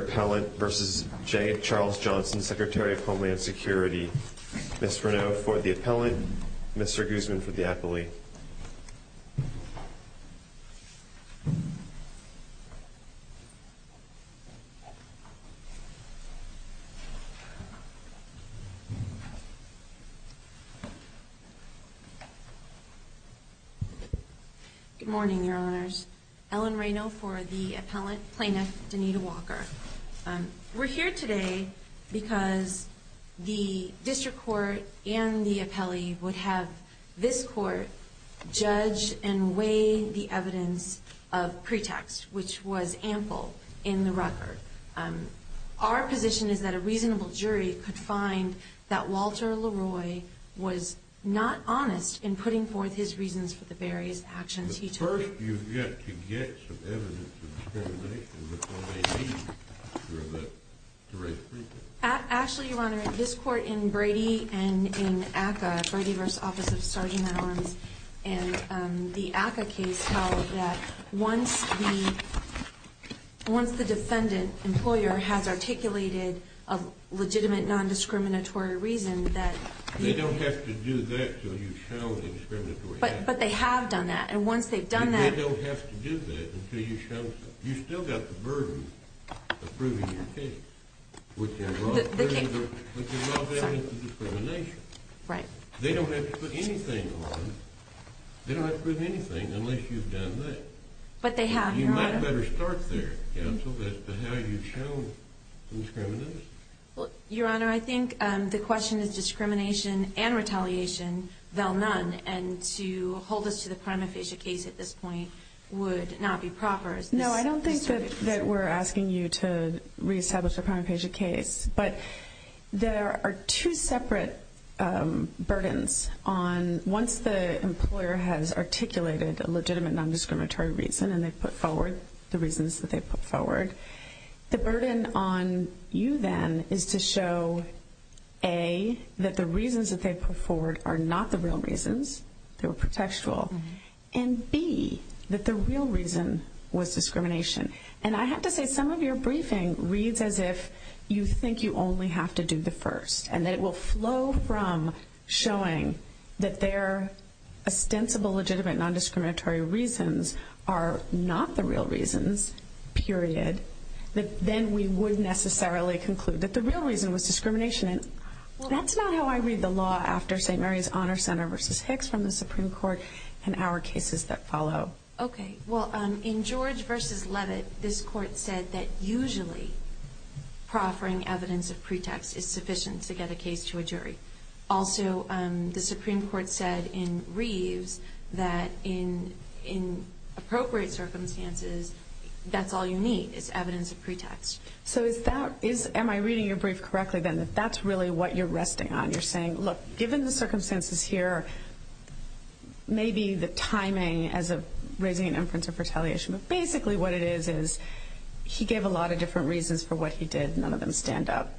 Appellant v. Jeh Charles Johnson Secretary of Homeland Security Mr. Reneau for the Appellant, Mr. Guzman for the Appellee Good morning, Your Honors. Ellen Reneau for the Appellant, Plaintiff Danita Walker. We're here today because the District Court and the Appellee would have this Court judge and weigh the evidence of pretext, which was ample in the record. Our position is that a reasonable jury could find that Walter Leroy was not honest in putting forth his reasons for the various actions he took. But first you get to get some evidence of discrimination. Actually, Your Honor, this Court in Brady and in ACCA, Brady v. Office of Sergeant at Arms, and the ACCA case held that once the defendant, employer, has articulated a legitimate non-discriminatory reason that... They don't have to do that until you show the discriminatory action. But they have done that, and once they've done that... They don't have to do that until you show... You've still got the burden of proving your case, which involves evidence of discrimination. They don't have to put anything on. They don't have to prove anything unless you've done that. But they have, Your Honor. You might better start there, Counsel, as to how you've shown discrimination. Well, Your Honor, I think the question is discrimination and retaliation, though none. And to hold us to the prima facie case at this point would not be proper. No, I don't think that we're asking you to reestablish a prima facie case. But there are two separate burdens on... Once the employer has articulated a legitimate non-discriminatory reason, and they've put forward the reasons that they've put forward... The burden on you, then, is to show, A, that the reasons that they've put forward are not the real reasons. They were pretextual. And, B, that the real reason was discrimination. And I have to say, some of your briefing reads as if you think you only have to do the first. And that it will flow from showing that their ostensible legitimate non-discriminatory reasons are not the real reasons, period. But then we would necessarily conclude that the real reason was discrimination. That's not how I read the law after St. Mary's Honor Center v. Hicks from the Supreme Court and our cases that follow. Okay. Well, in George v. Levitt, this Court said that usually proffering evidence of pretext is sufficient to get a case to a jury. Also, the Supreme Court said in Reeves that in appropriate circumstances, that's all you need is evidence of pretext. So is that... Am I reading your brief correctly, then, that that's really what you're resting on? You're saying, look, given the circumstances here, maybe the timing as of raising an inference of retaliation, but basically what it is is he gave a lot of different reasons for what he did. None of them stand up.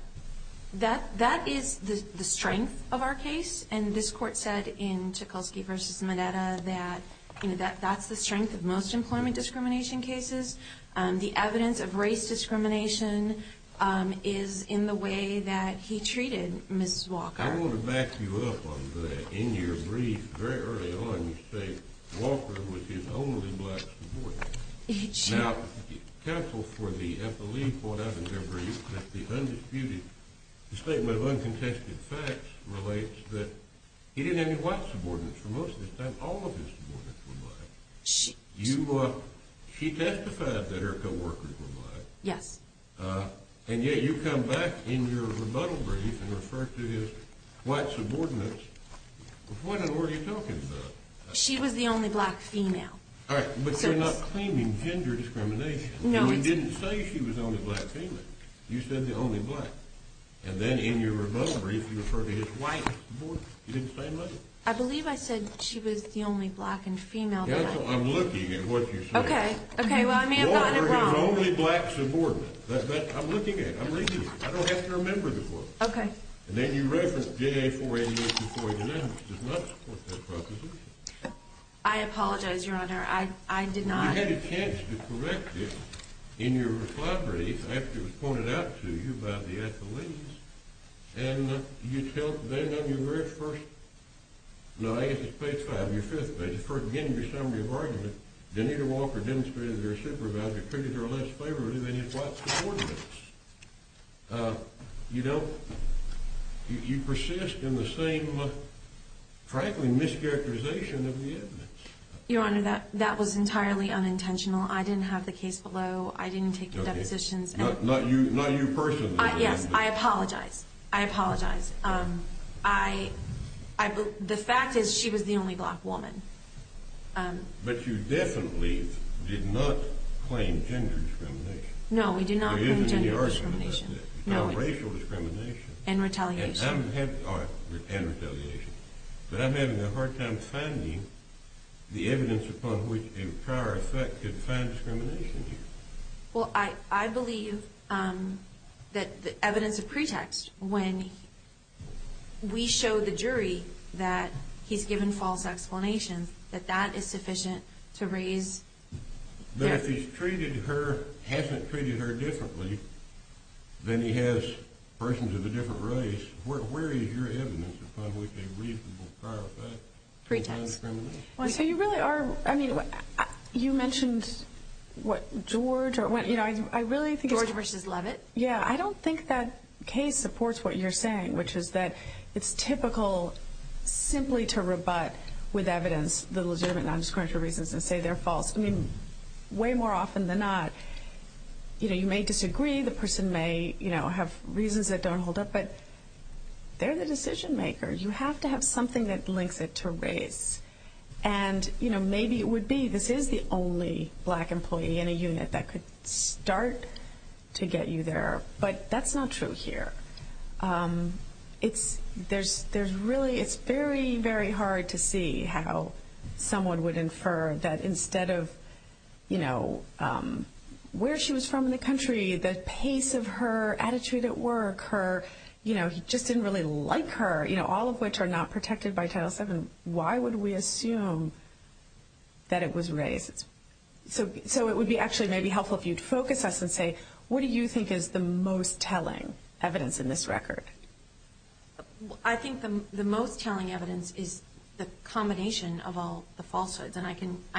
That is the strength of our case. And this Court said in Tchaikovsky v. Mineta that that's the strength of most employment discrimination cases. The evidence of race discrimination is in the way that he treated Ms. Walker. I want to back you up on that. In your brief, very early on, you say Walker was his only black supporter. Now, counsel, at the lead point of your brief, the undisputed statement of uncontested facts relates that he didn't have any white subordinates for most of his time. All of his subordinates were black. She testified that her co-workers were black. Yes. And yet you come back in your rebuttal brief and refer to his white subordinates. What in the world are you talking about? She was the only black female. All right, but you're not claiming gender discrimination. No, I didn't. You didn't say she was the only black female. You said the only black. And then in your rebuttal brief, you refer to his white subordinates. You didn't say much. I believe I said she was the only black and female. Counsel, I'm looking at what you said. Okay, okay, well, I may have gotten it wrong. Walker, his only black subordinate. That's what I'm looking at. I'm reading it. I don't have to remember the quote. Okay. And then you reference J.A. 488 v. Floyd and Adams. It does not support that proposition. I apologize, Your Honor. I did not. You had a chance to correct it in your rebuttal brief after it was pointed out to you by the athletes. And you tell them on your very first – no, I guess it's page five, your fifth page. Again, in your summary of argument, Denita Walker demonstrated that her supervisor treated her less favorably than his white subordinates. You don't – you persist in the same, frankly, mischaracterization of the evidence. Your Honor, that was entirely unintentional. I didn't have the case below. I didn't take the depositions. Not you personally. Yes, I apologize. I apologize. The fact is she was the only black woman. But you definitely did not claim gender discrimination. No, we did not claim gender discrimination. There isn't any argument about that. No. About racial discrimination. And retaliation. And retaliation. But I'm having a hard time finding the evidence upon which a prior effect could find discrimination here. Well, I believe that the evidence of pretext, when we show the jury that he's given false explanations, that that is sufficient to raise – that if he's treated her – hasn't treated her differently than he has persons of a different race, where is your evidence upon which a reasonable prior effect could find discrimination? So you really are – I mean, you mentioned what George – I really think it's – George v. Levitt? Yeah, I don't think that case supports what you're saying, which is that it's typical simply to rebut with evidence the legitimate non-discriminatory reasons and say they're false. I mean, way more often than not, you know, you may disagree. The person may, you know, have reasons that don't hold up. But they're the decision-makers. You have to have something that links it to race. And, you know, maybe it would be this is the only black employee in a unit that could start to get you there. But that's not true here. It's – there's really – it's very, very hard to see how someone would infer that instead of, you know, where she was from in the country, the pace of her attitude at work, her – you know, he just didn't really like her, you know, all of which are not protected by Title VII. Why would we assume that it was race? So it would be actually maybe helpful if you'd focus us and say, what do you think is the most telling evidence in this record? I think the most telling evidence is the combination of all the falsehoods. And I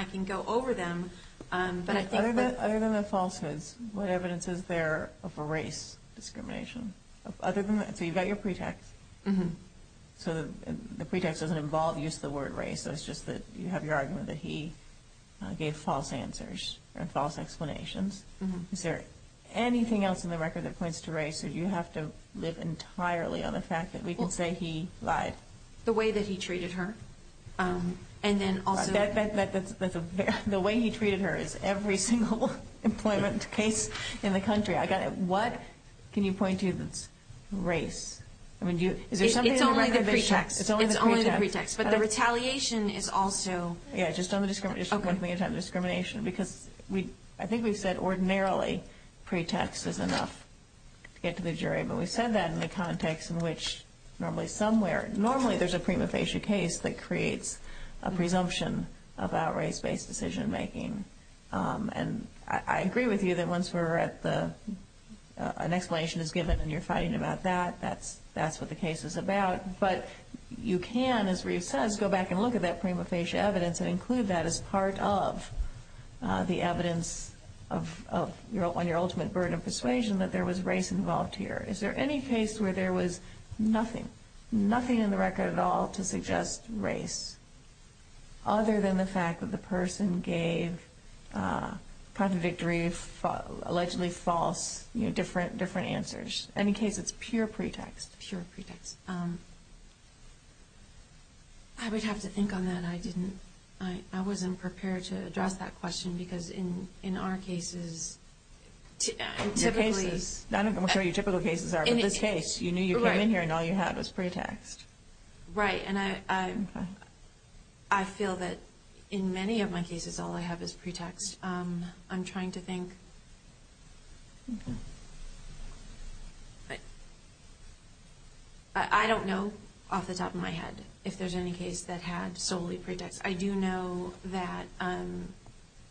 can go over them, but I think that – Other than the falsehoods, what evidence is there of a race discrimination? Other than – so you've got your pretext. So the pretext doesn't involve use of the word race. So it's just that you have your argument that he gave false answers or false explanations. Is there anything else in the record that points to race, or do you have to live entirely on the fact that we can say he lied? The way that he treated her. And then also – That's a – the way he treated her is every single employment case in the country. I got it. What can you point to that's race? I mean, is there something in the record that – It's only the pretext. It's only the pretext. But the retaliation is also – Yeah, just on the discrimination – Okay. Because I think we've said ordinarily pretext is enough to get to the jury. But we've said that in the context in which normally somewhere – normally there's a prima facie case that creates a presumption about race-based decision making. And I agree with you that once we're at the – an explanation is given and you're fighting about that, that's what the case is about. But you can, as Reeve says, go back and look at that prima facie evidence and include that as part of the evidence of – on your ultimate burden of persuasion that there was race involved here. Is there any case where there was nothing, nothing in the record at all to suggest race, other than the fact that the person gave contradictory, allegedly false, different answers? And in case it's pure pretext. Pure pretext. I would have to think on that. I didn't – I wasn't prepared to address that question because in our cases, typically – I'm not sure what your typical cases are. But in this case, you knew you came in here and all you had was pretext. Right. And I feel that in many of my cases all I have is pretext. I'm trying to think. I don't know off the top of my head if there's any case that had solely pretext. I do know that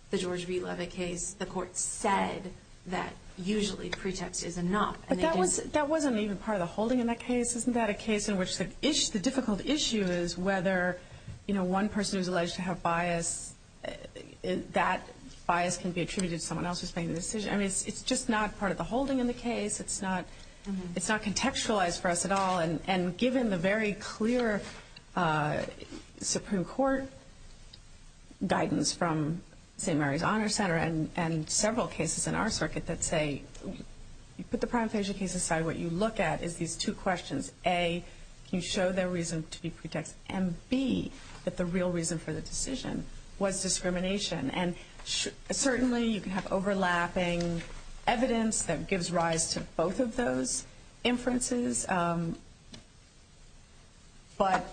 the George B. Levitt case, the court said that usually pretext is enough. But that wasn't even part of the holding in that case. Isn't that a case in which the difficult issue is whether, you know, one person who's alleged to have bias, that bias can be attributed to someone else who's making the decision? I mean, it's just not part of the holding in the case. It's not contextualized for us at all. And given the very clear Supreme Court guidance from St. Mary's Honor Center and several cases in our circuit that say you put the prima facie case aside, what you look at is these two questions. A, can you show their reason to be pretext? And B, that the real reason for the decision was discrimination. And certainly you can have overlapping evidence that gives rise to both of those inferences. But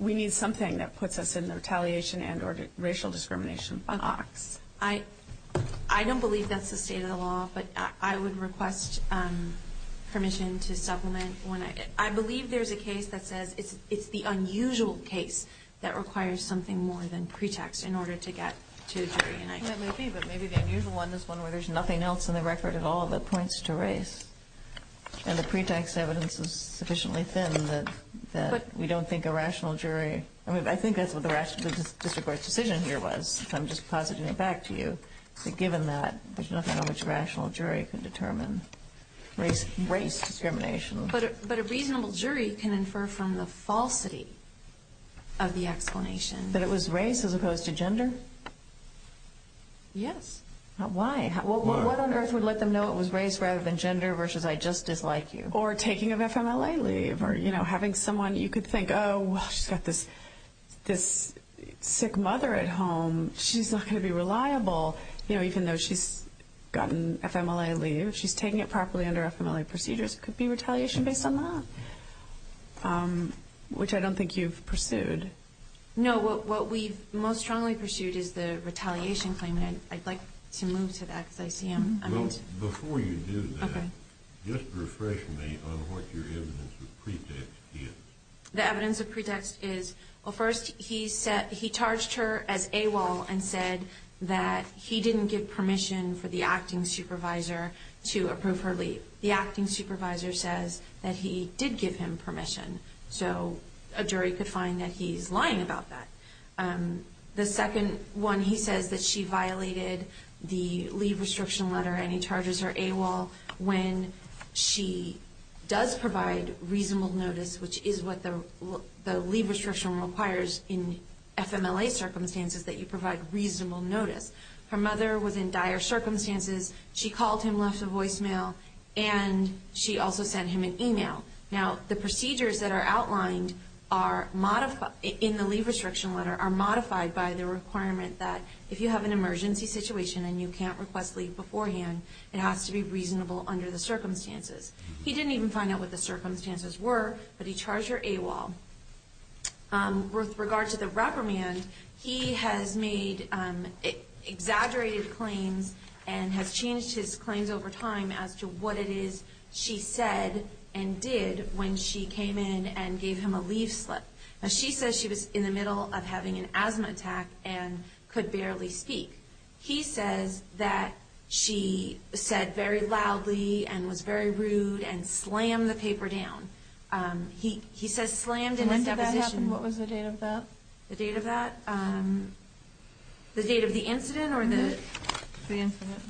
we need something that puts us in the retaliation and or racial discrimination box. I don't believe that's the state of the law, but I would request permission to supplement one. I believe there's a case that says it's the unusual case that requires something more than pretext in order to get to jury. That may be, but maybe the unusual one is one where there's nothing else in the record at all that points to race. And the pretext evidence is sufficiently thin that we don't think a rational jury. I mean, I think that's what the district court's decision here was. I'm just positing it back to you. But given that, there's nothing on which a rational jury can determine race discrimination. But a reasonable jury can infer from the falsity of the explanation. That it was race as opposed to gender? Yes. Why? Well, what on earth would let them know it was race rather than gender versus I just dislike you? Or taking an FMLA leave or, you know, having someone you could think, oh, well, she's got this sick mother at home. She's not going to be reliable, you know, even though she's gotten FMLA leave. She's taking it properly under FMLA procedures. It could be retaliation based on that, which I don't think you've pursued. No, what we've most strongly pursued is the retaliation claim. And I'd like to move to that because I see him. Well, before you do that, just refresh me on what your evidence of pretext is. The evidence of pretext is, well, first he charged her as AWOL and said that he didn't give permission for the acting supervisor to approve her leave. The acting supervisor says that he did give him permission. So a jury could find that he's lying about that. The second one, he says that she violated the leave restriction letter and he charges her AWOL when she does provide reasonable notice, which is what the leave restriction requires in FMLA circumstances, that you provide reasonable notice. Her mother was in dire circumstances. She called him, left a voicemail, and she also sent him an email. Now, the procedures that are outlined in the leave restriction letter are modified by the requirement that if you have an emergency situation and you can't request leave beforehand, it has to be reasonable under the circumstances. He didn't even find out what the circumstances were, but he charged her AWOL. With regard to the reprimand, he has made exaggerated claims and has changed his claims over time as to what it is she said and did when she came in and gave him a leave slip. Now, she says she was in the middle of having an asthma attack and could barely speak. He says that she said very loudly and was very rude and slammed the paper down. He says slammed in his deposition. When did that happen? What was the date of that? The date of that? The date of the incident or the? The incident.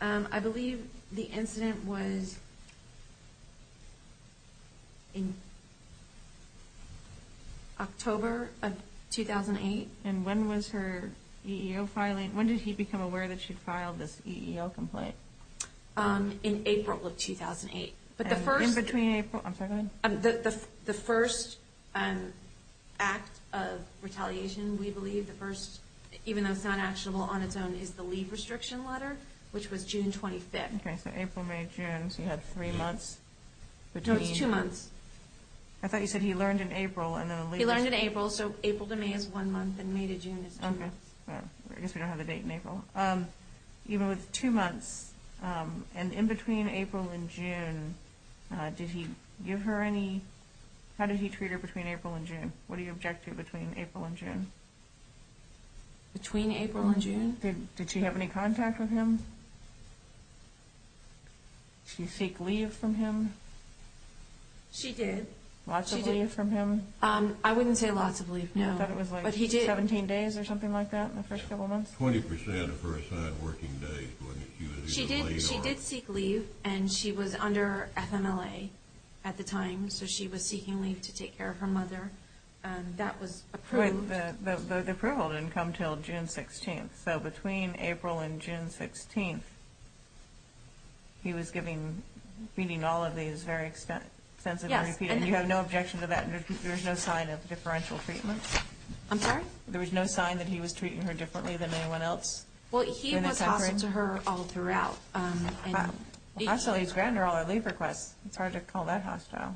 I believe the incident was in October of 2008. And when was her EEO filing? When did he become aware that she'd filed this EEO complaint? In April of 2008. In between April? I'm sorry, go ahead. The first act of retaliation, we believe, the first, even though it's not actionable on its own, is the leave restriction letter, which was June 25th. Okay, so April, May, June, so you had three months between? No, it's two months. I thought you said he learned in April and then the leave was? He learned in April, so April to May is one month and May to June is two months. I guess we don't have a date in April. Even with two months, and in between April and June, did he give her any, how did he treat her between April and June? What are your objectives between April and June? Between April and June? Did she have any contact with him? Did she seek leave from him? She did. Lots of leave from him? I wouldn't say lots of leave, no. I thought it was like 17 days or something like that in the first couple months? 20% of her assigned working days. She did seek leave, and she was under FMLA at the time, so she was seeking leave to take care of her mother. That was approved. The approval didn't come until June 16th, so between April and June 16th, he was giving, meaning all of these very extensively repeated, and you have no objection to that, there was no sign of differential treatment? I'm sorry? There was no sign that he was treating her differently than anyone else? Well, he was hostile to her all throughout. Hostile is grander, all our leave requests. It's hard to call that hostile.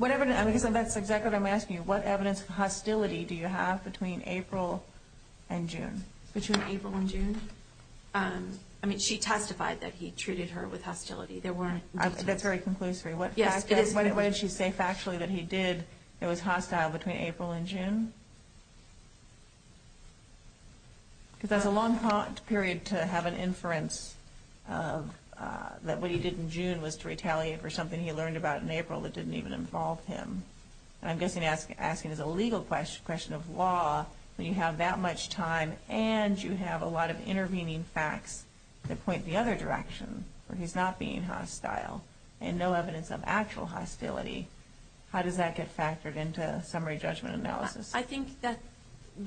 That's exactly what I'm asking you. What evidence of hostility do you have between April and June? Between April and June? I mean, she testified that he treated her with hostility. That's very conclusive. Yes, it is. What did she say factually that he did that was hostile between April and June? Because that's a long period to have an inference that what he did in June was to retaliate for something he learned about in April that didn't even involve him. And I'm guessing asking is a legal question of law when you have that much time and you have a lot of intervening facts that point the other direction, where he's not being hostile and no evidence of actual hostility. How does that get factored into summary judgment analysis? I think that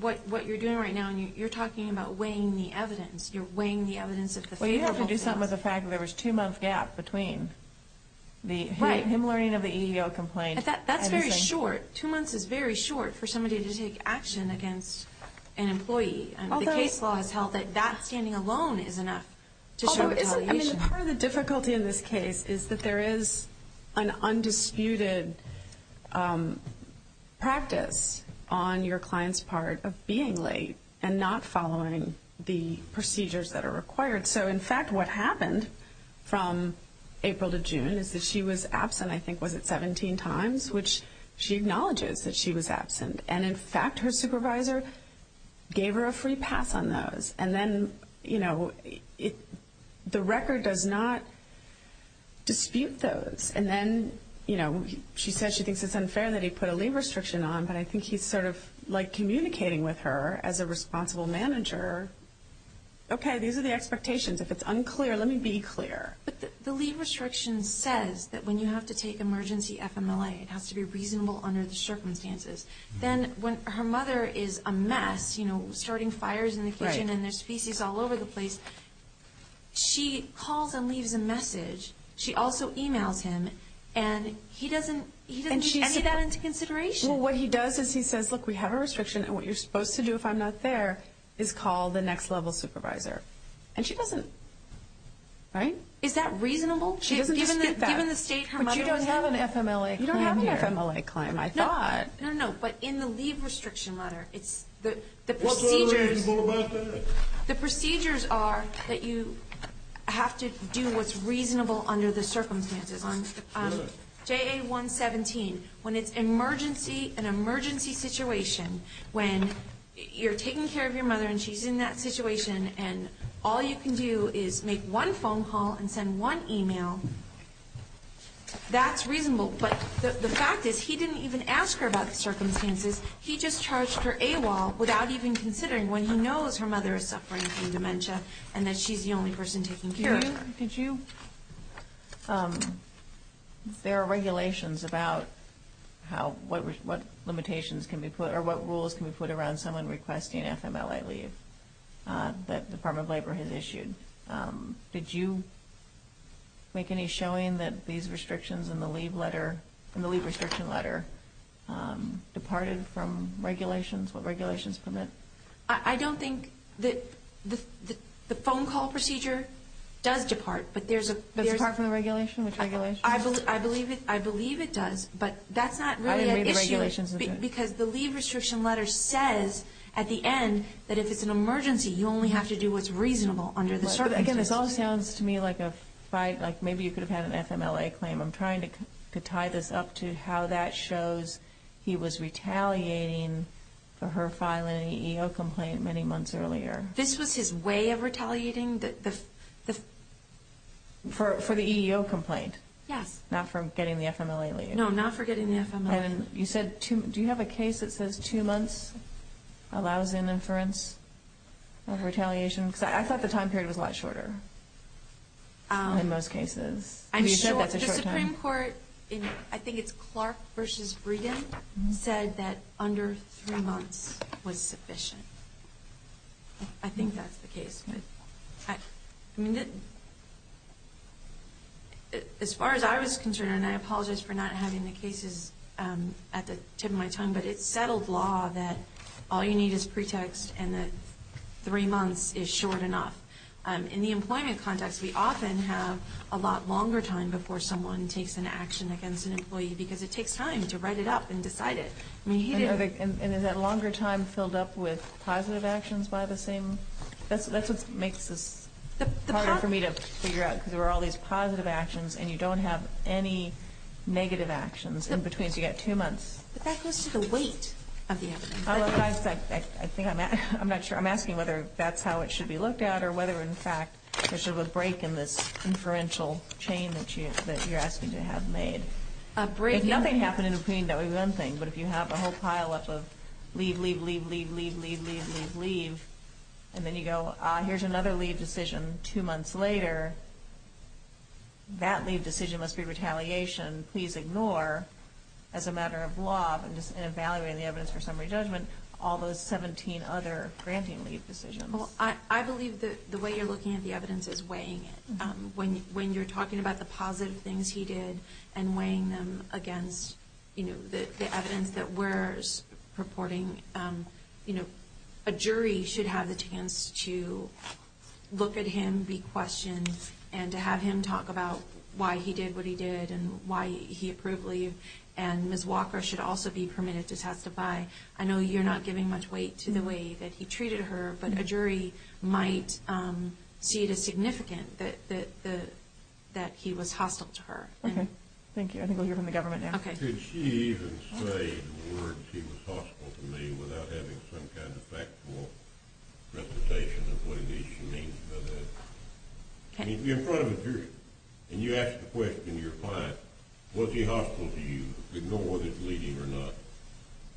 what you're doing right now, you're talking about weighing the evidence. You're weighing the evidence. Well, you have to do something with the fact that there was a two-month gap between him learning of the EEO complaint. That's very short. The case law has held that that standing alone is enough to show retaliation. Part of the difficulty in this case is that there is an undisputed practice on your client's part of being late and not following the procedures that are required. So, in fact, what happened from April to June is that she was absent, I think, was it 17 times, which she acknowledges that she was absent. And, in fact, her supervisor gave her a free pass on those. And then, you know, the record does not dispute those. And then, you know, she says she thinks it's unfair that he put a leave restriction on, but I think he's sort of like communicating with her as a responsible manager, okay, these are the expectations. If it's unclear, let me be clear. But the leave restriction says that when you have to take emergency FMLA, it has to be reasonable under the circumstances. Then when her mother is amassed, you know, starting fires in the kitchen and there's species all over the place, she calls and leaves a message. She also emails him, and he doesn't take any of that into consideration. Well, what he does is he says, look, we have a restriction, and what you're supposed to do if I'm not there is call the next-level supervisor. And she doesn't, right? Is that reasonable? She doesn't dispute that. Given the state her mother was in. But you don't have an FMLA claim here. You don't have an FMLA claim, I thought. No, no, no, but in the leave restriction letter, it's the procedures. What's unreasonable about that? The procedures are that you have to do what's reasonable under the circumstances. JA-117, when it's an emergency situation, when you're taking care of your mother and she's in that situation, and all you can do is make one phone call and send one email, that's reasonable. But the fact is he didn't even ask her about the circumstances. He just charged her AWOL without even considering when he knows her mother is suffering from dementia and that she's the only person taking care of her. There are regulations about what rules can be put around someone requesting FMLA leave that the Department of Labor has issued. Did you make any showing that these restrictions in the leave restriction letter departed from regulations? What regulations permit? I don't think that the phone call procedure does depart, but there's a... But it's apart from the regulation? Which regulation? I believe it does, but that's not really an issue. I didn't read the regulations. Because the leave restriction letter says at the end that if it's an emergency, you only have to do what's reasonable under the circumstances. This all sounds to me like maybe you could have had an FMLA claim. I'm trying to tie this up to how that shows he was retaliating for her filing an EEO complaint many months earlier. This was his way of retaliating? For the EEO complaint? Yes. Not for getting the FMLA leave? No, not for getting the FMLA leave. Do you have a case that says two months allows an inference of retaliation? Because I thought the time period was a lot shorter in most cases. The Supreme Court, I think it's Clark v. Brigham, said that under three months was sufficient. I think that's the case. As far as I was concerned, and I apologize for not having the cases at the tip of my tongue, but it's settled law that all you need is pretext and that three months is short enough. In the employment context, we often have a lot longer time before someone takes an action against an employee because it takes time to write it up and decide it. And is that longer time filled up with positive actions by the same? That's what makes this harder for me to figure out because there are all these positive actions and you don't have any negative actions in between, so you've got two months. But that goes to the weight of the evidence. I'm not sure. I'm asking whether that's how it should be looked at or whether, in fact, there should be a break in this inferential chain that you're asking to have made. A break. Nothing happened in between. That would be one thing. But if you have a whole pileup of leave, leave, leave, leave, leave, leave, leave, leave, leave, leave, and then you go, ah, here's another leave decision two months later, that leave decision must be retaliation. Please ignore, as a matter of law, in evaluating the evidence for summary judgment, all those 17 other granting leave decisions. Well, I believe the way you're looking at the evidence is weighing it. When you're talking about the positive things he did and weighing them against the evidence that we're reporting, a jury should have the chance to look at him, be questioned, and to have him talk about why he did what he did and why he approved leave. And Ms. Walker should also be permitted to testify. I know you're not giving much weight to the way that he treated her, but a jury might see it as significant that he was hostile to her. Okay. Thank you. I think we'll hear from the government now. Okay. Could she even say the words, he was hostile to me, without having some kind of factual representation of what it is she means by that? In front of a jury. And you ask the question to your client, was he hostile to you? Ignore if he's leaving or not.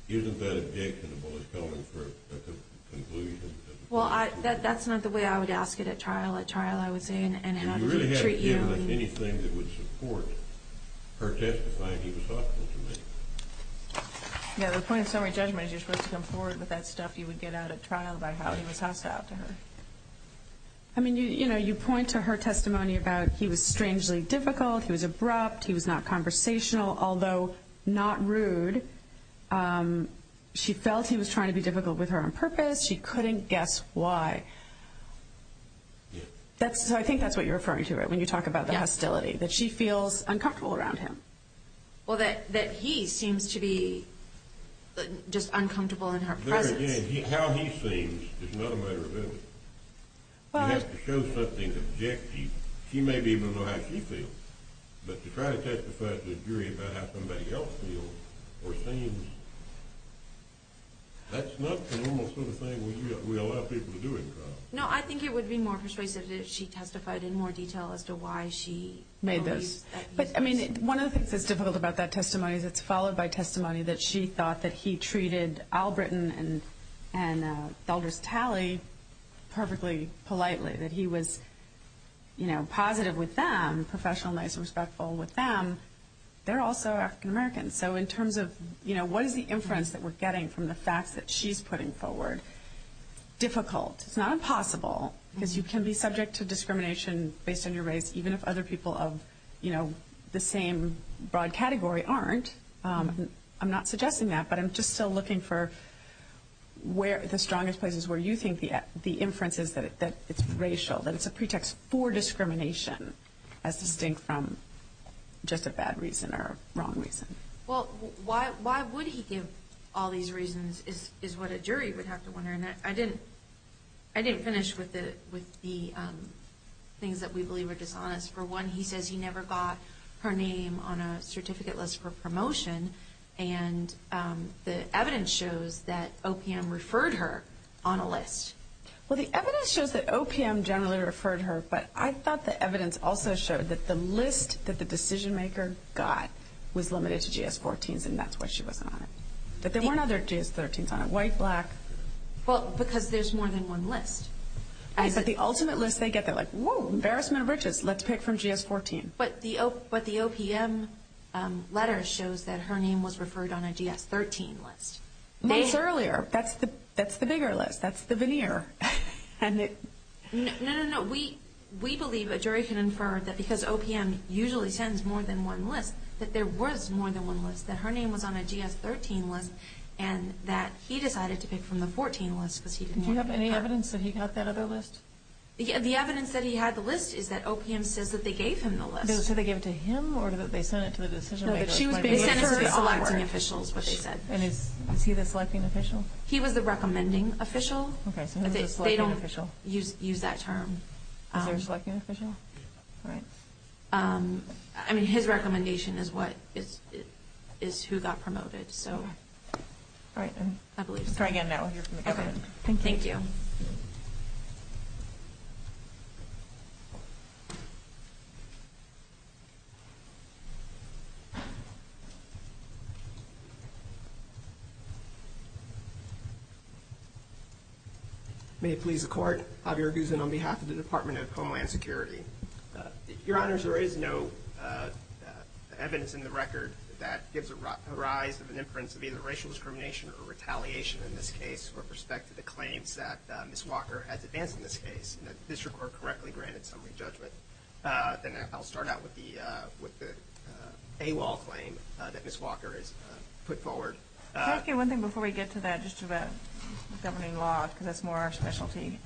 Isn't that objectionable? It's going for a conclusion. Well, that's not the way I would ask it at trial. At trial I would say, and how did he treat you? Do you really have any evidence, anything that would support her testifying he was hostile to me? Yeah, the point of summary judgment is you're supposed to come forward with that stuff you would get out at trial about how he was hostile to her. I mean, you know, you point to her testimony about he was strangely difficult, he was abrupt, he was not conversational, although not rude. She felt he was trying to be difficult with her on purpose. She couldn't guess why. So I think that's what you're referring to when you talk about the hostility, that she feels uncomfortable around him. Well, that he seems to be just uncomfortable in her presence. There again, how he seems is not a matter of evidence. You have to show something objective. She may be able to know how she feels, but to try to testify to a jury about how somebody else feels or seems, that's not the normal sort of thing we allow people to do in trial. No, I think it would be more persuasive if she testified in more detail as to why she felt he was. But, I mean, one of the things that's difficult about that testimony is it's followed by testimony that she thought that he treated Albritton and Elders Talley perfectly politely, that he was, you know, positive with them, professional, nice and respectful with them. They're also African-Americans. So in terms of, you know, what is the inference that we're getting from the facts that she's putting forward? Difficult. It's not impossible because you can be subject to discrimination based on your race, even if other people of, you know, the same broad category aren't. I'm not suggesting that, but I'm just still looking for the strongest places where you think the inference is that it's racial, that it's a pretext for discrimination as distinct from just a bad reason or wrong reason. Well, why would he give all these reasons is what a jury would have to wonder. And I didn't finish with the things that we believe are dishonest. For one, he says he never got her name on a certificate list for promotion, and the evidence shows that OPM referred her on a list. Well, the evidence shows that OPM generally referred her, but I thought the evidence also showed that the list that the decision-maker got was limited to GS-14s, and that's why she wasn't on it, that there weren't other GS-13s on it, white, black. Well, because there's more than one list. But the ultimate list they get, they're like, whoa, embarrassment of riches. Let's pick from GS-14. But the OPM letter shows that her name was referred on a GS-13 list. Months earlier. That's the bigger list. That's the veneer. No, no, no. We believe a jury can infer that because OPM usually sends more than one list, that there was more than one list, that her name was on a GS-13 list, and that he decided to pick from the 14 list because he didn't want her. Do you have any evidence that he got that other list? The evidence that he had the list is that OPM says that they gave him the list. Did they say they gave it to him, or did they send it to the decision-maker? They sent it to the selecting officials, what they said. And is he the selecting official? He was the recommending official. Okay, so who's the selecting official? They don't use that term. Is there a selecting official? All right. I mean, his recommendation is who got promoted. All right. I'm coming in now. We'll hear from the government. Okay. Thank you. May it please the Court, Mr. President, Javier Guzman on behalf of the Department of Homeland Security. Your Honors, there is no evidence in the record that gives a rise of an inference of either racial discrimination or retaliation in this case with respect to the claims that Ms. Walker has advanced in this case, and that the district court correctly granted some re-judgment. Then I'll start out with the AWOL claim that Ms. Walker has put forward. Can I ask you one thing before we get to that, just about governing law, because that's more our specialty?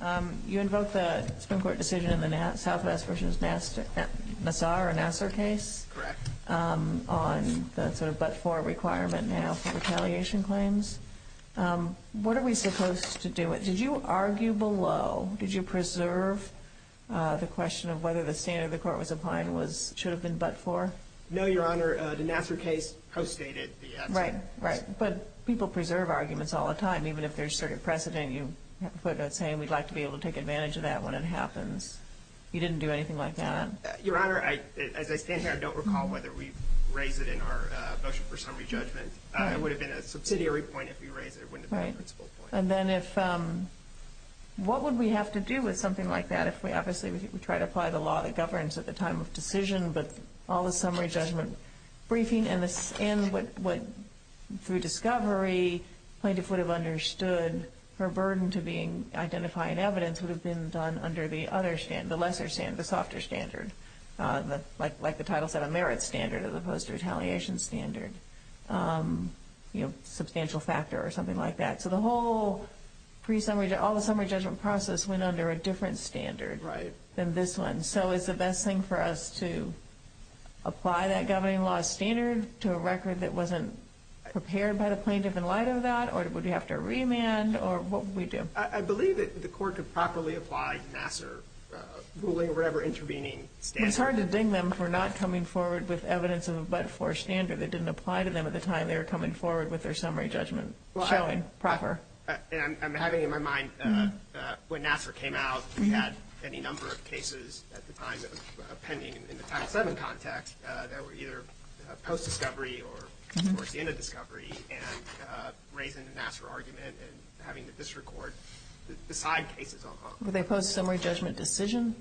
You invoked the Supreme Court decision in the Southwest versus Nassar or Nassar case? Correct. On the sort of but-for requirement now for retaliation claims. What are we supposed to do? Did you argue below? Did you preserve the question of whether the standard the Court was applying should have been but-for? No, Your Honor. The Nassar case post-stated the answer. Right, right. But people preserve arguments all the time, even if there's precedent. You put a saying, we'd like to be able to take advantage of that when it happens. You didn't do anything like that? Your Honor, as I stand here, I don't recall whether we raised it in our motion for summary judgment. It would have been a subsidiary point if we raised it. It wouldn't have been a principal point. Right. And then what would we have to do with something like that if we obviously try to apply the law that governs at the time of decision, but all the summary judgment briefing and through discovery, plaintiff would have understood her burden to be identifying evidence would have been done under the other standard, the lesser standard, the softer standard, like the Title VII merit standard as opposed to retaliation standard, you know, substantial factor or something like that. So the whole pre-summary, all the summary judgment process went under a different standard than this one. And so is the best thing for us to apply that governing law standard to a record that wasn't prepared by the plaintiff in light of that, or would we have to remand, or what would we do? I believe that the court could properly apply Nassar ruling or whatever intervening standard. It's hard to ding them for not coming forward with evidence of a but-for standard that didn't apply to them at the time they were coming forward with their summary judgment showing proper. And I'm having in my mind when Nassar came out, we had any number of cases at the time pending in the Title VII context that were either post-discovery or, of course, in a discovery, and raising the Nassar argument and having the district court decide cases on them. Were they post-summary judgment decision?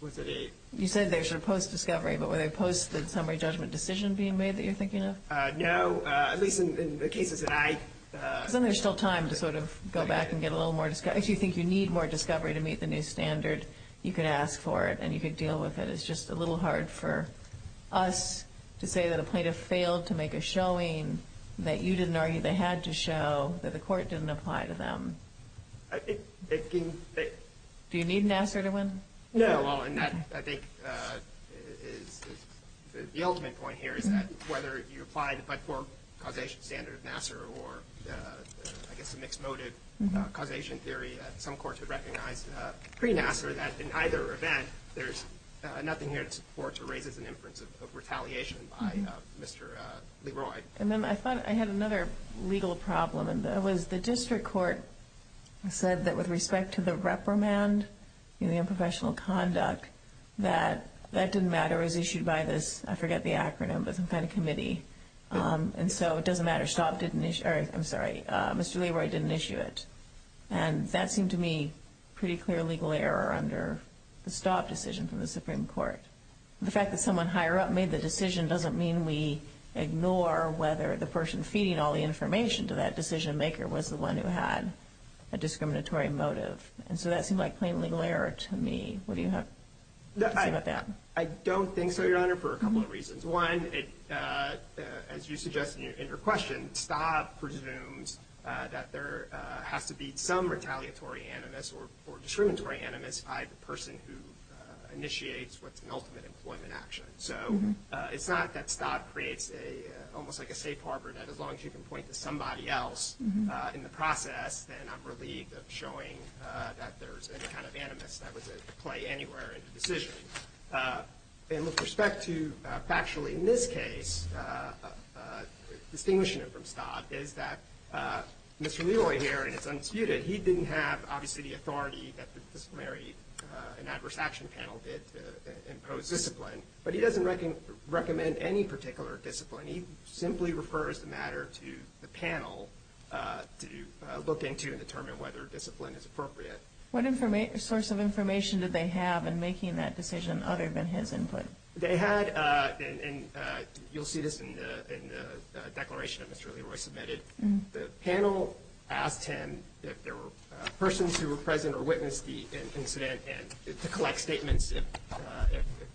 Was it a – You said they were sort of post-discovery, but were they post-summary judgment decision being made that you're thinking of? No, at least in the cases that I – Because then there's still time to sort of go back and get a little more – if you think you need more discovery to meet the new standard, you could ask for it and you could deal with it. It's just a little hard for us to say that a plaintiff failed to make a showing that you didn't argue they had to show, that the court didn't apply to them. I think – Do you need Nassar to win? No. Well, and that, I think, is the ultimate point here, is that whether you apply the but-for causation standard of Nassar or, I guess, the mixed-motive causation theory that some courts have recognized pre-Nassar, that in either event there's nothing here that supports or raises an inference of retaliation by Mr. Leroy. And then I thought I had another legal problem, and that was the district court said that with respect to the reprimand, the unprofessional conduct, that that didn't matter. It was issued by this – I forget the acronym, but some kind of committee. And so it doesn't matter. Staub didn't – or, I'm sorry, Mr. Leroy didn't issue it. And that seemed to me a pretty clear legal error under the Staub decision from the Supreme Court. The fact that someone higher up made the decision doesn't mean we ignore whether the person feeding all the information to that decision-maker was the one who had a discriminatory motive. And so that seemed like plain legal error to me. What do you have to say about that? I don't think so, Your Honor, for a couple of reasons. One, as you suggest in your question, Staub presumes that there has to be some retaliatory animus or discriminatory animus by the person who initiates what's an ultimate employment action. So it's not that Staub creates a – almost like a safe harbor, that as long as you can point to somebody else in the process, then I'm relieved of showing that there's any kind of animus that was at play anywhere in the decision. And with respect to factually in this case, distinguishing it from Staub, is that Mr. Leroy here, and it's unsputed, he didn't have, obviously, the authority that the disciplinary and adverse action panel did to impose discipline. But he doesn't recommend any particular discipline. He simply refers the matter to the panel to look into and determine whether discipline is appropriate. What source of information did they have in making that decision other than his input? They had – and you'll see this in the declaration that Mr. Leroy submitted. The panel asked him if there were persons who were present or witnessed the incident and to collect statements if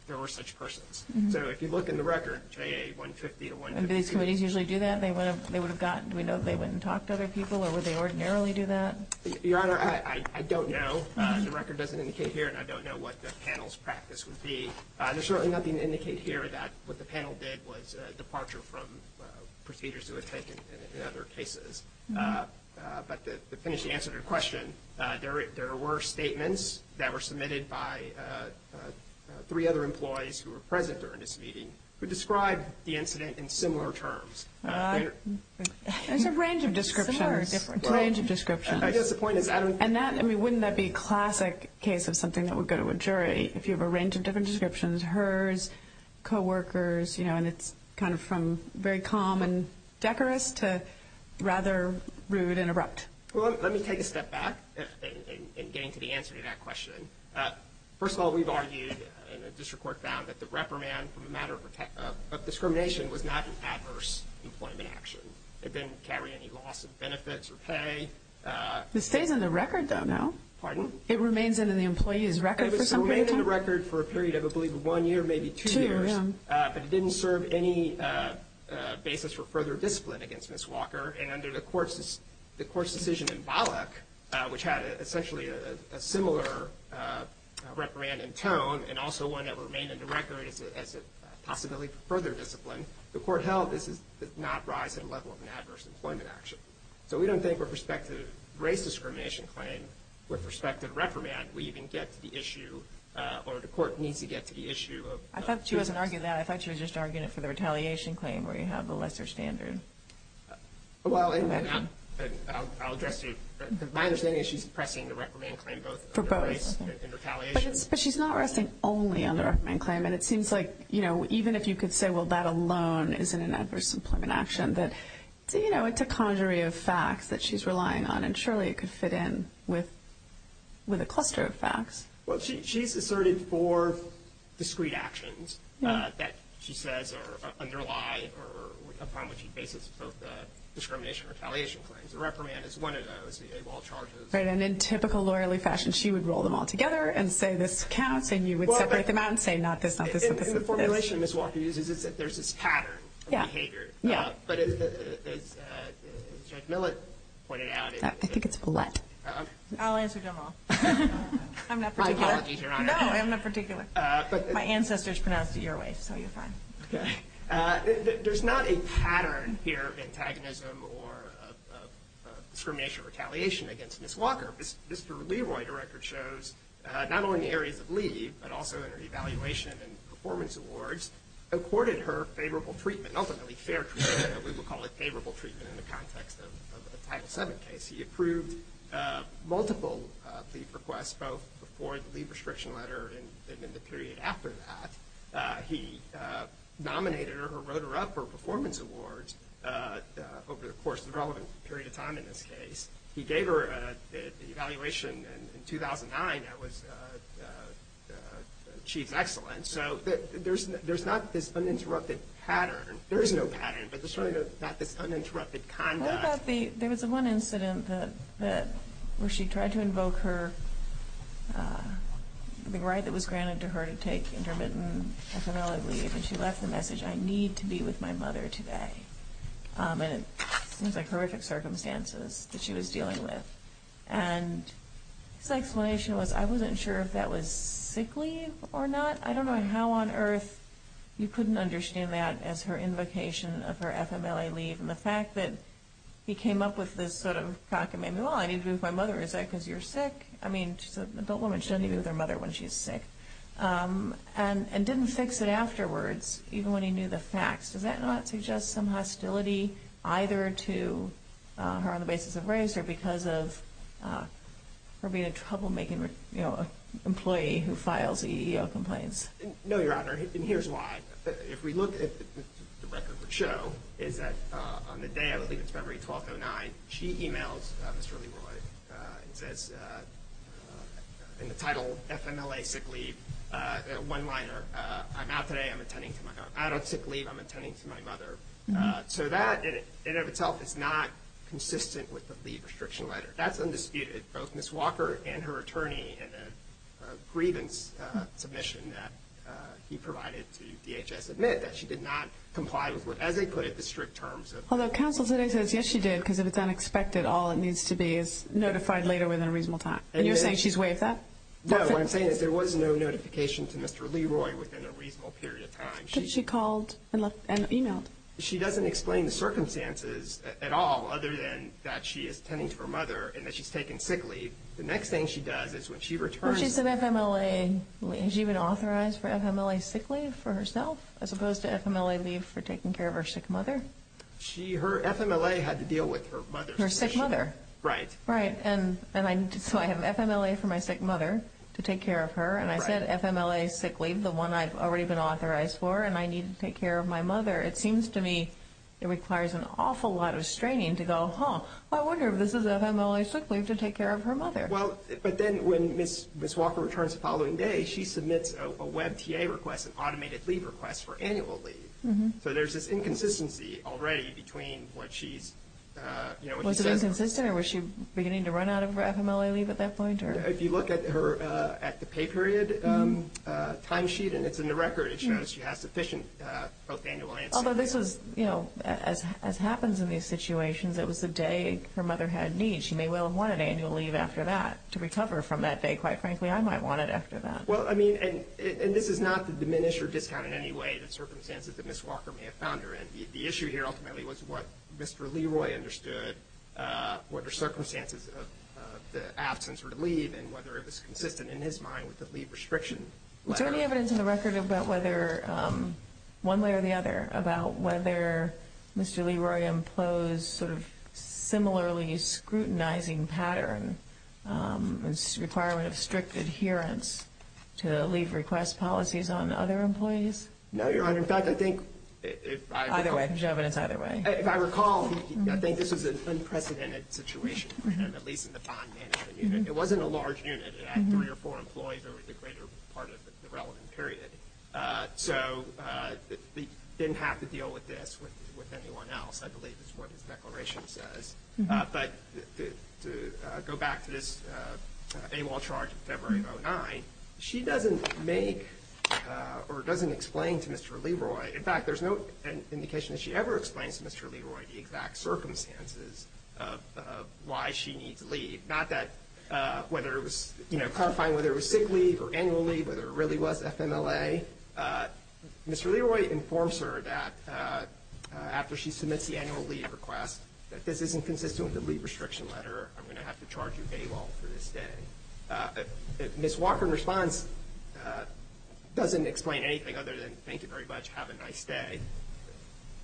there were such persons. So if you look in the record, J.A. 150 to 150. And do these committees usually do that? They would have gotten – do we know that they went and talked to other people? Or would they ordinarily do that? Your Honor, I don't know. The record doesn't indicate here, and I don't know what the panel's practice would be. There's certainly nothing to indicate here that what the panel did was departure from procedures that were taken in other cases. But to finish the answer to your question, there were statements that were submitted by three other employees who were present during this meeting who described the incident in similar terms. It's a range of descriptions. Similar or different? A range of descriptions. I guess the point is I don't – And that – I mean, wouldn't that be a classic case of something that would go to a jury when it's kind of from very calm and decorous to rather rude and abrupt? Well, let me take a step back in getting to the answer to that question. First of all, we've argued, and the district court found, that the reprimand for the matter of discrimination was not an adverse employment action. It didn't carry any loss of benefits or pay. This stays in the record, though, no? Pardon? It remains in the employee's record for some period of time? It remains in the record for a period of, I believe, one year, maybe two years. But it didn't serve any basis for further discipline against Ms. Walker. And under the court's decision in Bollock, which had essentially a similar reprimand in tone and also one that remained in the record as a possibility for further discipline, the court held this did not rise at a level of an adverse employment action. So we don't think with respect to the race discrimination claim, with respect to the reprimand, we even get to the issue, or the court needs to get to the issue of – I thought she wasn't arguing that. I thought she was just arguing it for the retaliation claim where you have the lesser standard. Well, I'll address you. My understanding is she's pressing the reprimand claim both for race and retaliation. But she's not resting only on the reprimand claim. And it seems like, you know, even if you could say, well, that alone isn't an adverse employment action, that, you know, it's a conjury of facts that she's relying on. And surely it could fit in with a cluster of facts. Well, she's asserted four discrete actions that she says underlie or upon which she bases both the discrimination and retaliation claims. The reprimand is one of those. The AWOL charges. Right. And in typical lawyerly fashion, she would roll them all together and say this counts, and you would separate them out and say not this, not this, not this. In the formulation Ms. Walker uses, there's this pattern of behavior. Yeah. But as Judge Millett pointed out. I think it's Volette. I'll answer general. I'm not particular. My apologies, Your Honor. No, I'm not particular. My ancestors pronounced it your way, so you're fine. Okay. There's not a pattern here of antagonism or discrimination or retaliation against Ms. Walker. Mr. Leroy, the record shows, not only in the areas of leave, but also in her evaluation and performance awards, accorded her favorable treatment, ultimately fair treatment. We will call it favorable treatment in the context of the Title VII case. He approved multiple leave requests, both before the leave restriction letter and in the period after that. He nominated or wrote her up for performance awards over the course of the relevant period of time, in this case. He gave her an evaluation in 2009 that was Chief's Excellence. So there's not this uninterrupted pattern. There is no pattern, but there's not this uninterrupted conduct. There was one incident where she tried to invoke the right that was granted to her to take intermittent FMLA leave, and she left the message, I need to be with my mother today. And it seems like horrific circumstances that she was dealing with. And his explanation was, I wasn't sure if that was sick leave or not. I don't know how on earth you couldn't understand that as her invocation of her FMLA leave. And the fact that he came up with this sort of cockamamie, well, I need to be with my mother. Is that because you're sick? I mean, she's an adult woman. She doesn't need to be with her mother when she's sick. And didn't fix it afterwards, even when he knew the facts. Does that not suggest some hostility either to her on the basis of race or because of her being a troublemaking employee who files EEO complaints? No, Your Honor, and here's why. If we look at the record we show, is that on the day, I believe it's February 12, 2009, she emails Mr. Leroy and says in the title, FMLA sick leave, one-liner, I'm out today, I'm attending to my own. Out of sick leave, I'm attending to my mother. So that in and of itself is not consistent with the leave restriction letter. That's undisputed. Both Ms. Walker and her attorney in a grievance submission that he provided to DHS admit that she did not comply with, as they put it, the strict terms. Although counsel today says, yes, she did, because if it's unexpected, all it needs to be is notified later within a reasonable time. And you're saying she's waived that? No, what I'm saying is there was no notification to Mr. Leroy within a reasonable period of time. But she called and emailed. She doesn't explain the circumstances at all other than that she is attending to her mother and that she's taking sick leave. The next thing she does is when she returns. She said FMLA. Has she been authorized for FMLA sick leave for herself, as opposed to FMLA leave for taking care of her sick mother? Her FMLA had to deal with her mother's condition. Her sick mother. Right. So I have FMLA for my sick mother to take care of her, and I said FMLA sick leave, the one I've already been authorized for, and I need to take care of my mother. It seems to me it requires an awful lot of straining to go, I wonder if this is FMLA sick leave to take care of her mother. But then when Ms. Walker returns the following day, she submits a WebTA request, an automated leave request for annual leave. So there's this inconsistency already between what she says. Was it inconsistent or was she beginning to run out of FMLA leave at that point? If you look at the pay period timesheet and it's in the record, it shows she has sufficient both annual and sick leave. Although this was, you know, as happens in these situations, it was the day her mother had needs. She may well have wanted annual leave after that to recover from that day. Quite frankly, I might want it after that. Well, I mean, and this is not to diminish or discount in any way the circumstances that Ms. Walker may have found her in. The issue here ultimately was what Mr. Leroy understood, what her circumstances of the absence were to leave, and whether it was consistent in his mind with the leave restriction. Is there any evidence in the record about whether, one way or the other, about whether Mr. Leroy imposed sort of similarly scrutinizing pattern, this requirement of strict adherence to leave request policies on other employees? No, Your Honor. In fact, I think if I recall, I think this was an unprecedented situation, at least in the fine management unit. It wasn't a large unit. It had three or four employees. There was a greater part of the relevant period. So he didn't have to deal with this with anyone else, I believe, is what his declaration says. But to go back to this AWOL charge of February of 2009, she doesn't make or doesn't explain to Mr. Leroy. In fact, there's no indication that she ever explains to Mr. Leroy the exact circumstances of why she needs leave. Not that whether it was, you know, clarifying whether it was sick leave or annual leave, whether it really was FMLA. Mr. Leroy informs her that after she submits the annual leave request, that this isn't consistent with the leave restriction letter. I'm going to have to charge you AWOL for this day. Ms. Walker, in response, doesn't explain anything other than, thank you very much, have a nice day.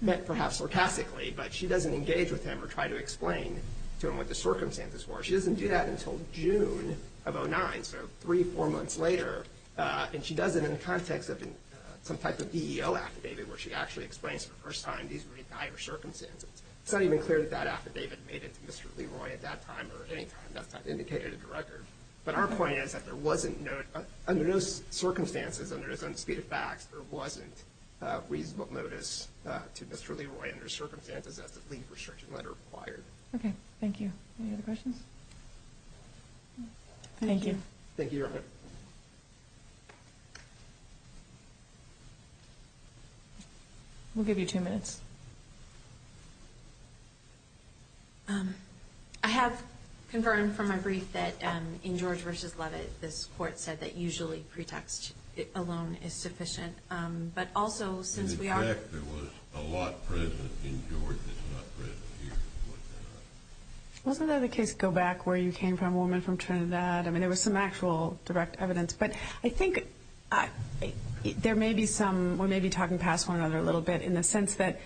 Met perhaps sarcastically, but she doesn't engage with him or try to explain to him what the circumstances were. She doesn't do that until June of 2009, so three, four months later. And she does it in the context of some type of EEO affidavit where she actually explains for the first time these really dire circumstances. It's not even clear that that affidavit made it to Mr. Leroy at that time or any time. That's not indicated in the record. But our point is that there wasn't, under those circumstances, under those unspeakable facts, there wasn't reasonable notice to Mr. Leroy under circumstances as the leave restriction letter required. Okay. Thank you. Any other questions? Thank you. Thank you, Your Honor. We'll give you two minutes. I have confirmed from my brief that in George v. Levitt, this court said that usually pretext alone is sufficient. But also, since we are— Wasn't there the case, Go Back, where you came from, a woman from Trinidad? I mean, there was some actual direct evidence. But I think there may be some—we may be talking past one another a little bit in the sense that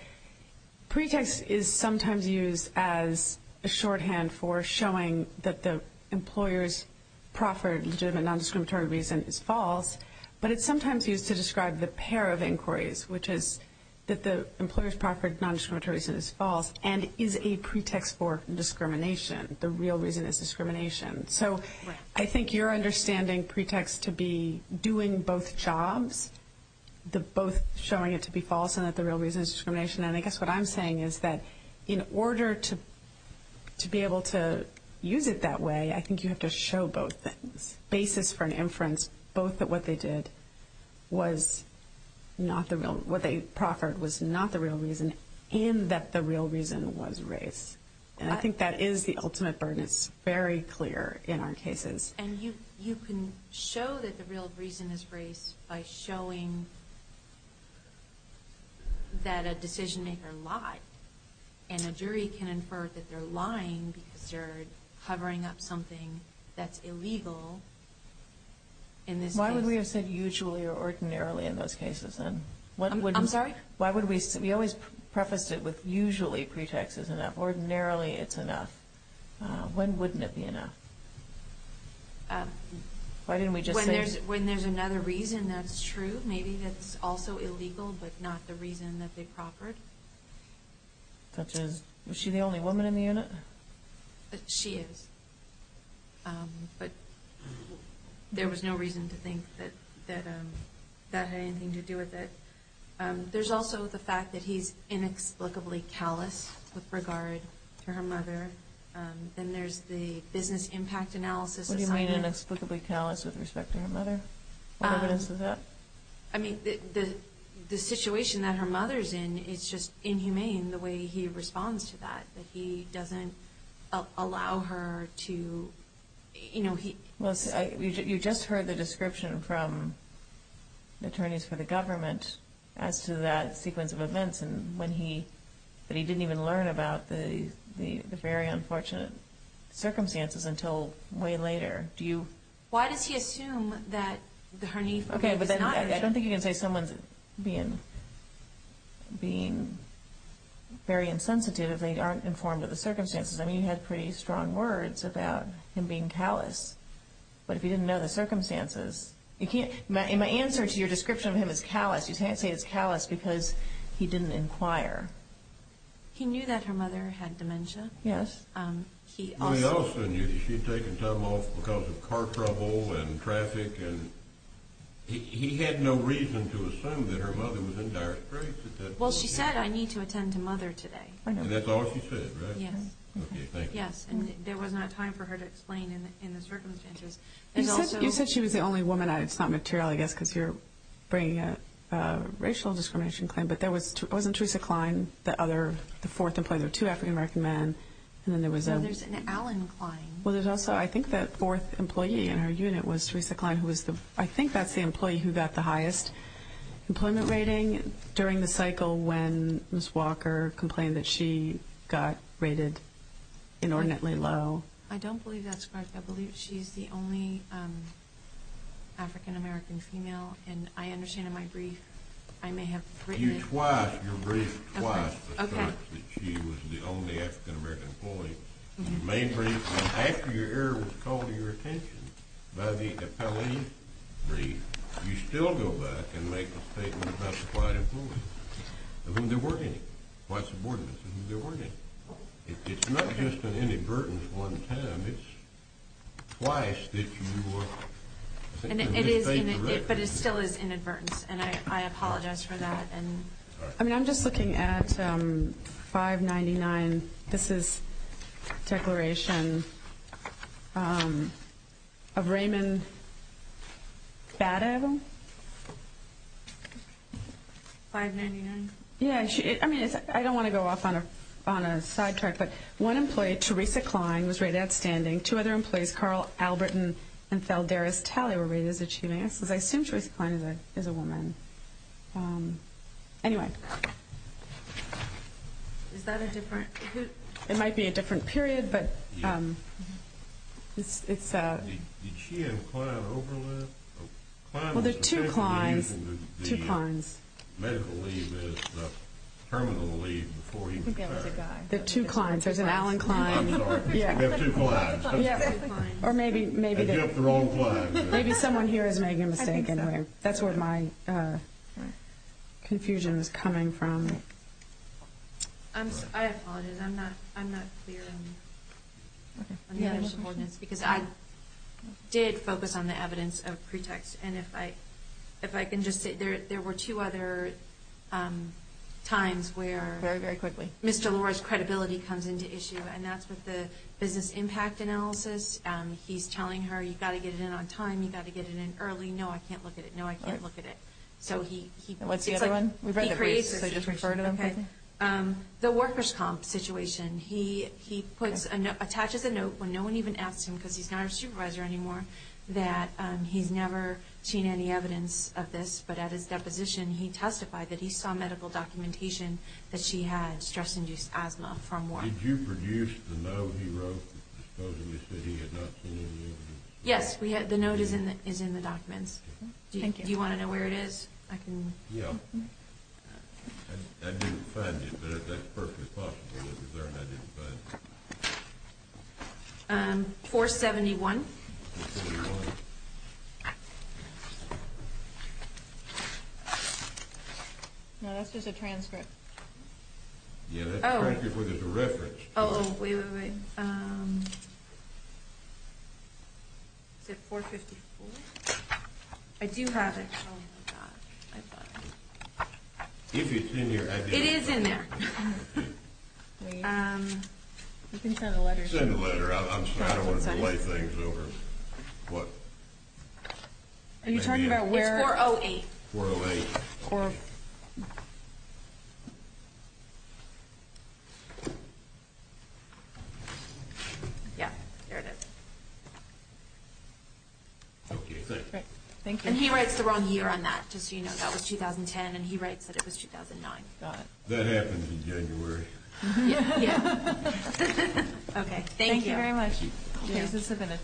pretext is sometimes used as a shorthand for showing that the employer's proffered legitimate nondiscriminatory reason is false. But it's sometimes used to describe the pair of inquiries, which is that the employer's proffered nondiscriminatory reason is false and is a pretext for discrimination. The real reason is discrimination. So I think you're understanding pretext to be doing both jobs, both showing it to be false and that the real reason is discrimination. And I guess what I'm saying is that in order to be able to use it that way, I think you have to show both things. Basis for an inference, both that what they did was not the real— And I think that is the ultimate burden. It's very clear in our cases. And you can show that the real reason is race by showing that a decision-maker lied. And a jury can infer that they're lying because they're hovering up something that's illegal in this case. Why would we have said usually or ordinarily in those cases, then? I'm sorry? We always prefaced it with usually pretext is enough. Ordinarily it's enough. When wouldn't it be enough? Why didn't we just say— When there's another reason that's true, maybe that's also illegal but not the reason that they proffered. Such as, was she the only woman in the unit? She is. But there was no reason to think that that had anything to do with it. There's also the fact that he's inexplicably callous with regard to her mother. And there's the business impact analysis assignment. What do you mean inexplicably callous with respect to her mother? What evidence is that? I mean, the situation that her mother's in, it's just inhumane the way he responds to that. That he doesn't allow her to— You just heard the description from the attorneys for the government as to that sequence of events, that he didn't even learn about the very unfortunate circumstances until way later. Why does he assume that her— Okay, but then I don't think you can say someone's being very insensitive if they aren't informed of the circumstances. I mean, you had pretty strong words about him being callous. But if you didn't know the circumstances, you can't—my answer to your description of him as callous, you can't say he's callous because he didn't inquire. He knew that her mother had dementia. Yes. He also knew that she had taken time off because of car trouble and traffic. He had no reason to assume that her mother was in dire straits at that point. Well, she said, I need to attend to Mother today. And that's all she said, right? Yes. Okay, thank you. Yes, and there was not time for her to explain in the circumstances. You said she was the only woman. It's not material, I guess, because you're bringing a racial discrimination claim. But there was—wasn't Teresa Cline the fourth employee? There were two African-American men, and then there was— No, there's an Allen Cline. Well, there's also, I think, that fourth employee in her unit was Teresa Cline, who was the—I think that's the employee who got the highest employment rating during the cycle when Ms. Walker complained that she got rated inordinately low. I don't believe that's correct. I believe she's the only African-American female. And I understand in my brief I may have written it— I gave you twice, your brief twice, the fact that she was the only African-American employee. You made briefs, and after your error was called to your attention by the appellee brief, you still go back and make a statement about the five employees, of whom there were any, quite subordinately, of whom there were any. It's not just an inadvertence one time. It's twice that you were— And it is—but it still is inadvertence, and I apologize for that. I mean, I'm just looking at 599. This is a declaration of Raymond Badev. 599? Yeah, I mean, I don't want to go off on a sidetrack, but one employee, Teresa Cline, was rated outstanding. Two other employees, Carl Alberton and Theldaris Talley, were rated as achieving excellence. I assume Teresa Cline is a woman. Anyway. Is that a different— It might be a different period, but it's— Did she have a client overlive? Well, there are two Clines. The medical leave is the terminal leave before you retire. I think that was a guy. There are two Clines. There's an Alan Cline. I'm sorry. There are two Clines. There are two Clines. Or maybe someone here is making a mistake. That's where my confusion is coming from. I apologize. I'm not clear on the initial ordinance, because I did focus on the evidence of pretext. And if I can just say, there were two other times where— Very, very quickly. Ms. Delora's credibility comes into issue, and that's with the business impact analysis. He's telling her, you've got to get it in on time. You've got to get it in early. No, I can't look at it. No, I can't look at it. So he— What's the other one? We've read the briefs, so just refer to them. Okay. The workers' comp situation. He attaches a note when no one even asks him, because he's not our supervisor anymore, that he's never seen any evidence of this. But at his deposition, he testified that he saw medical documentation that she had stress-induced asthma from work. Did you produce the note he wrote that supposedly said he had not seen any evidence? Yes. The note is in the documents. Thank you. Do you want to know where it is? I can— Yeah. I didn't find it, but that's perfectly possible that it's there, and I didn't find it. 471. 471. No, that's just a transcript. Yeah, that's a transcript where there's a reference. Oh, wait, wait, wait. Is it 454? I do have it. Oh, my God. I thought I had it. If it's in here, I— It is in there. You can send a letter. Send a letter. I'm sorry. I don't want to delay things over what— Are you talking about where— It's 408. 408. Okay. Yeah, there it is. Okay, thank you. Great. Thank you. And he writes the wrong year on that, just so you know. That was 2010, and he writes that it was 2009. Got it. That happened in January. Yeah. Yeah. Okay. Thank you. Thank you very much. Okay.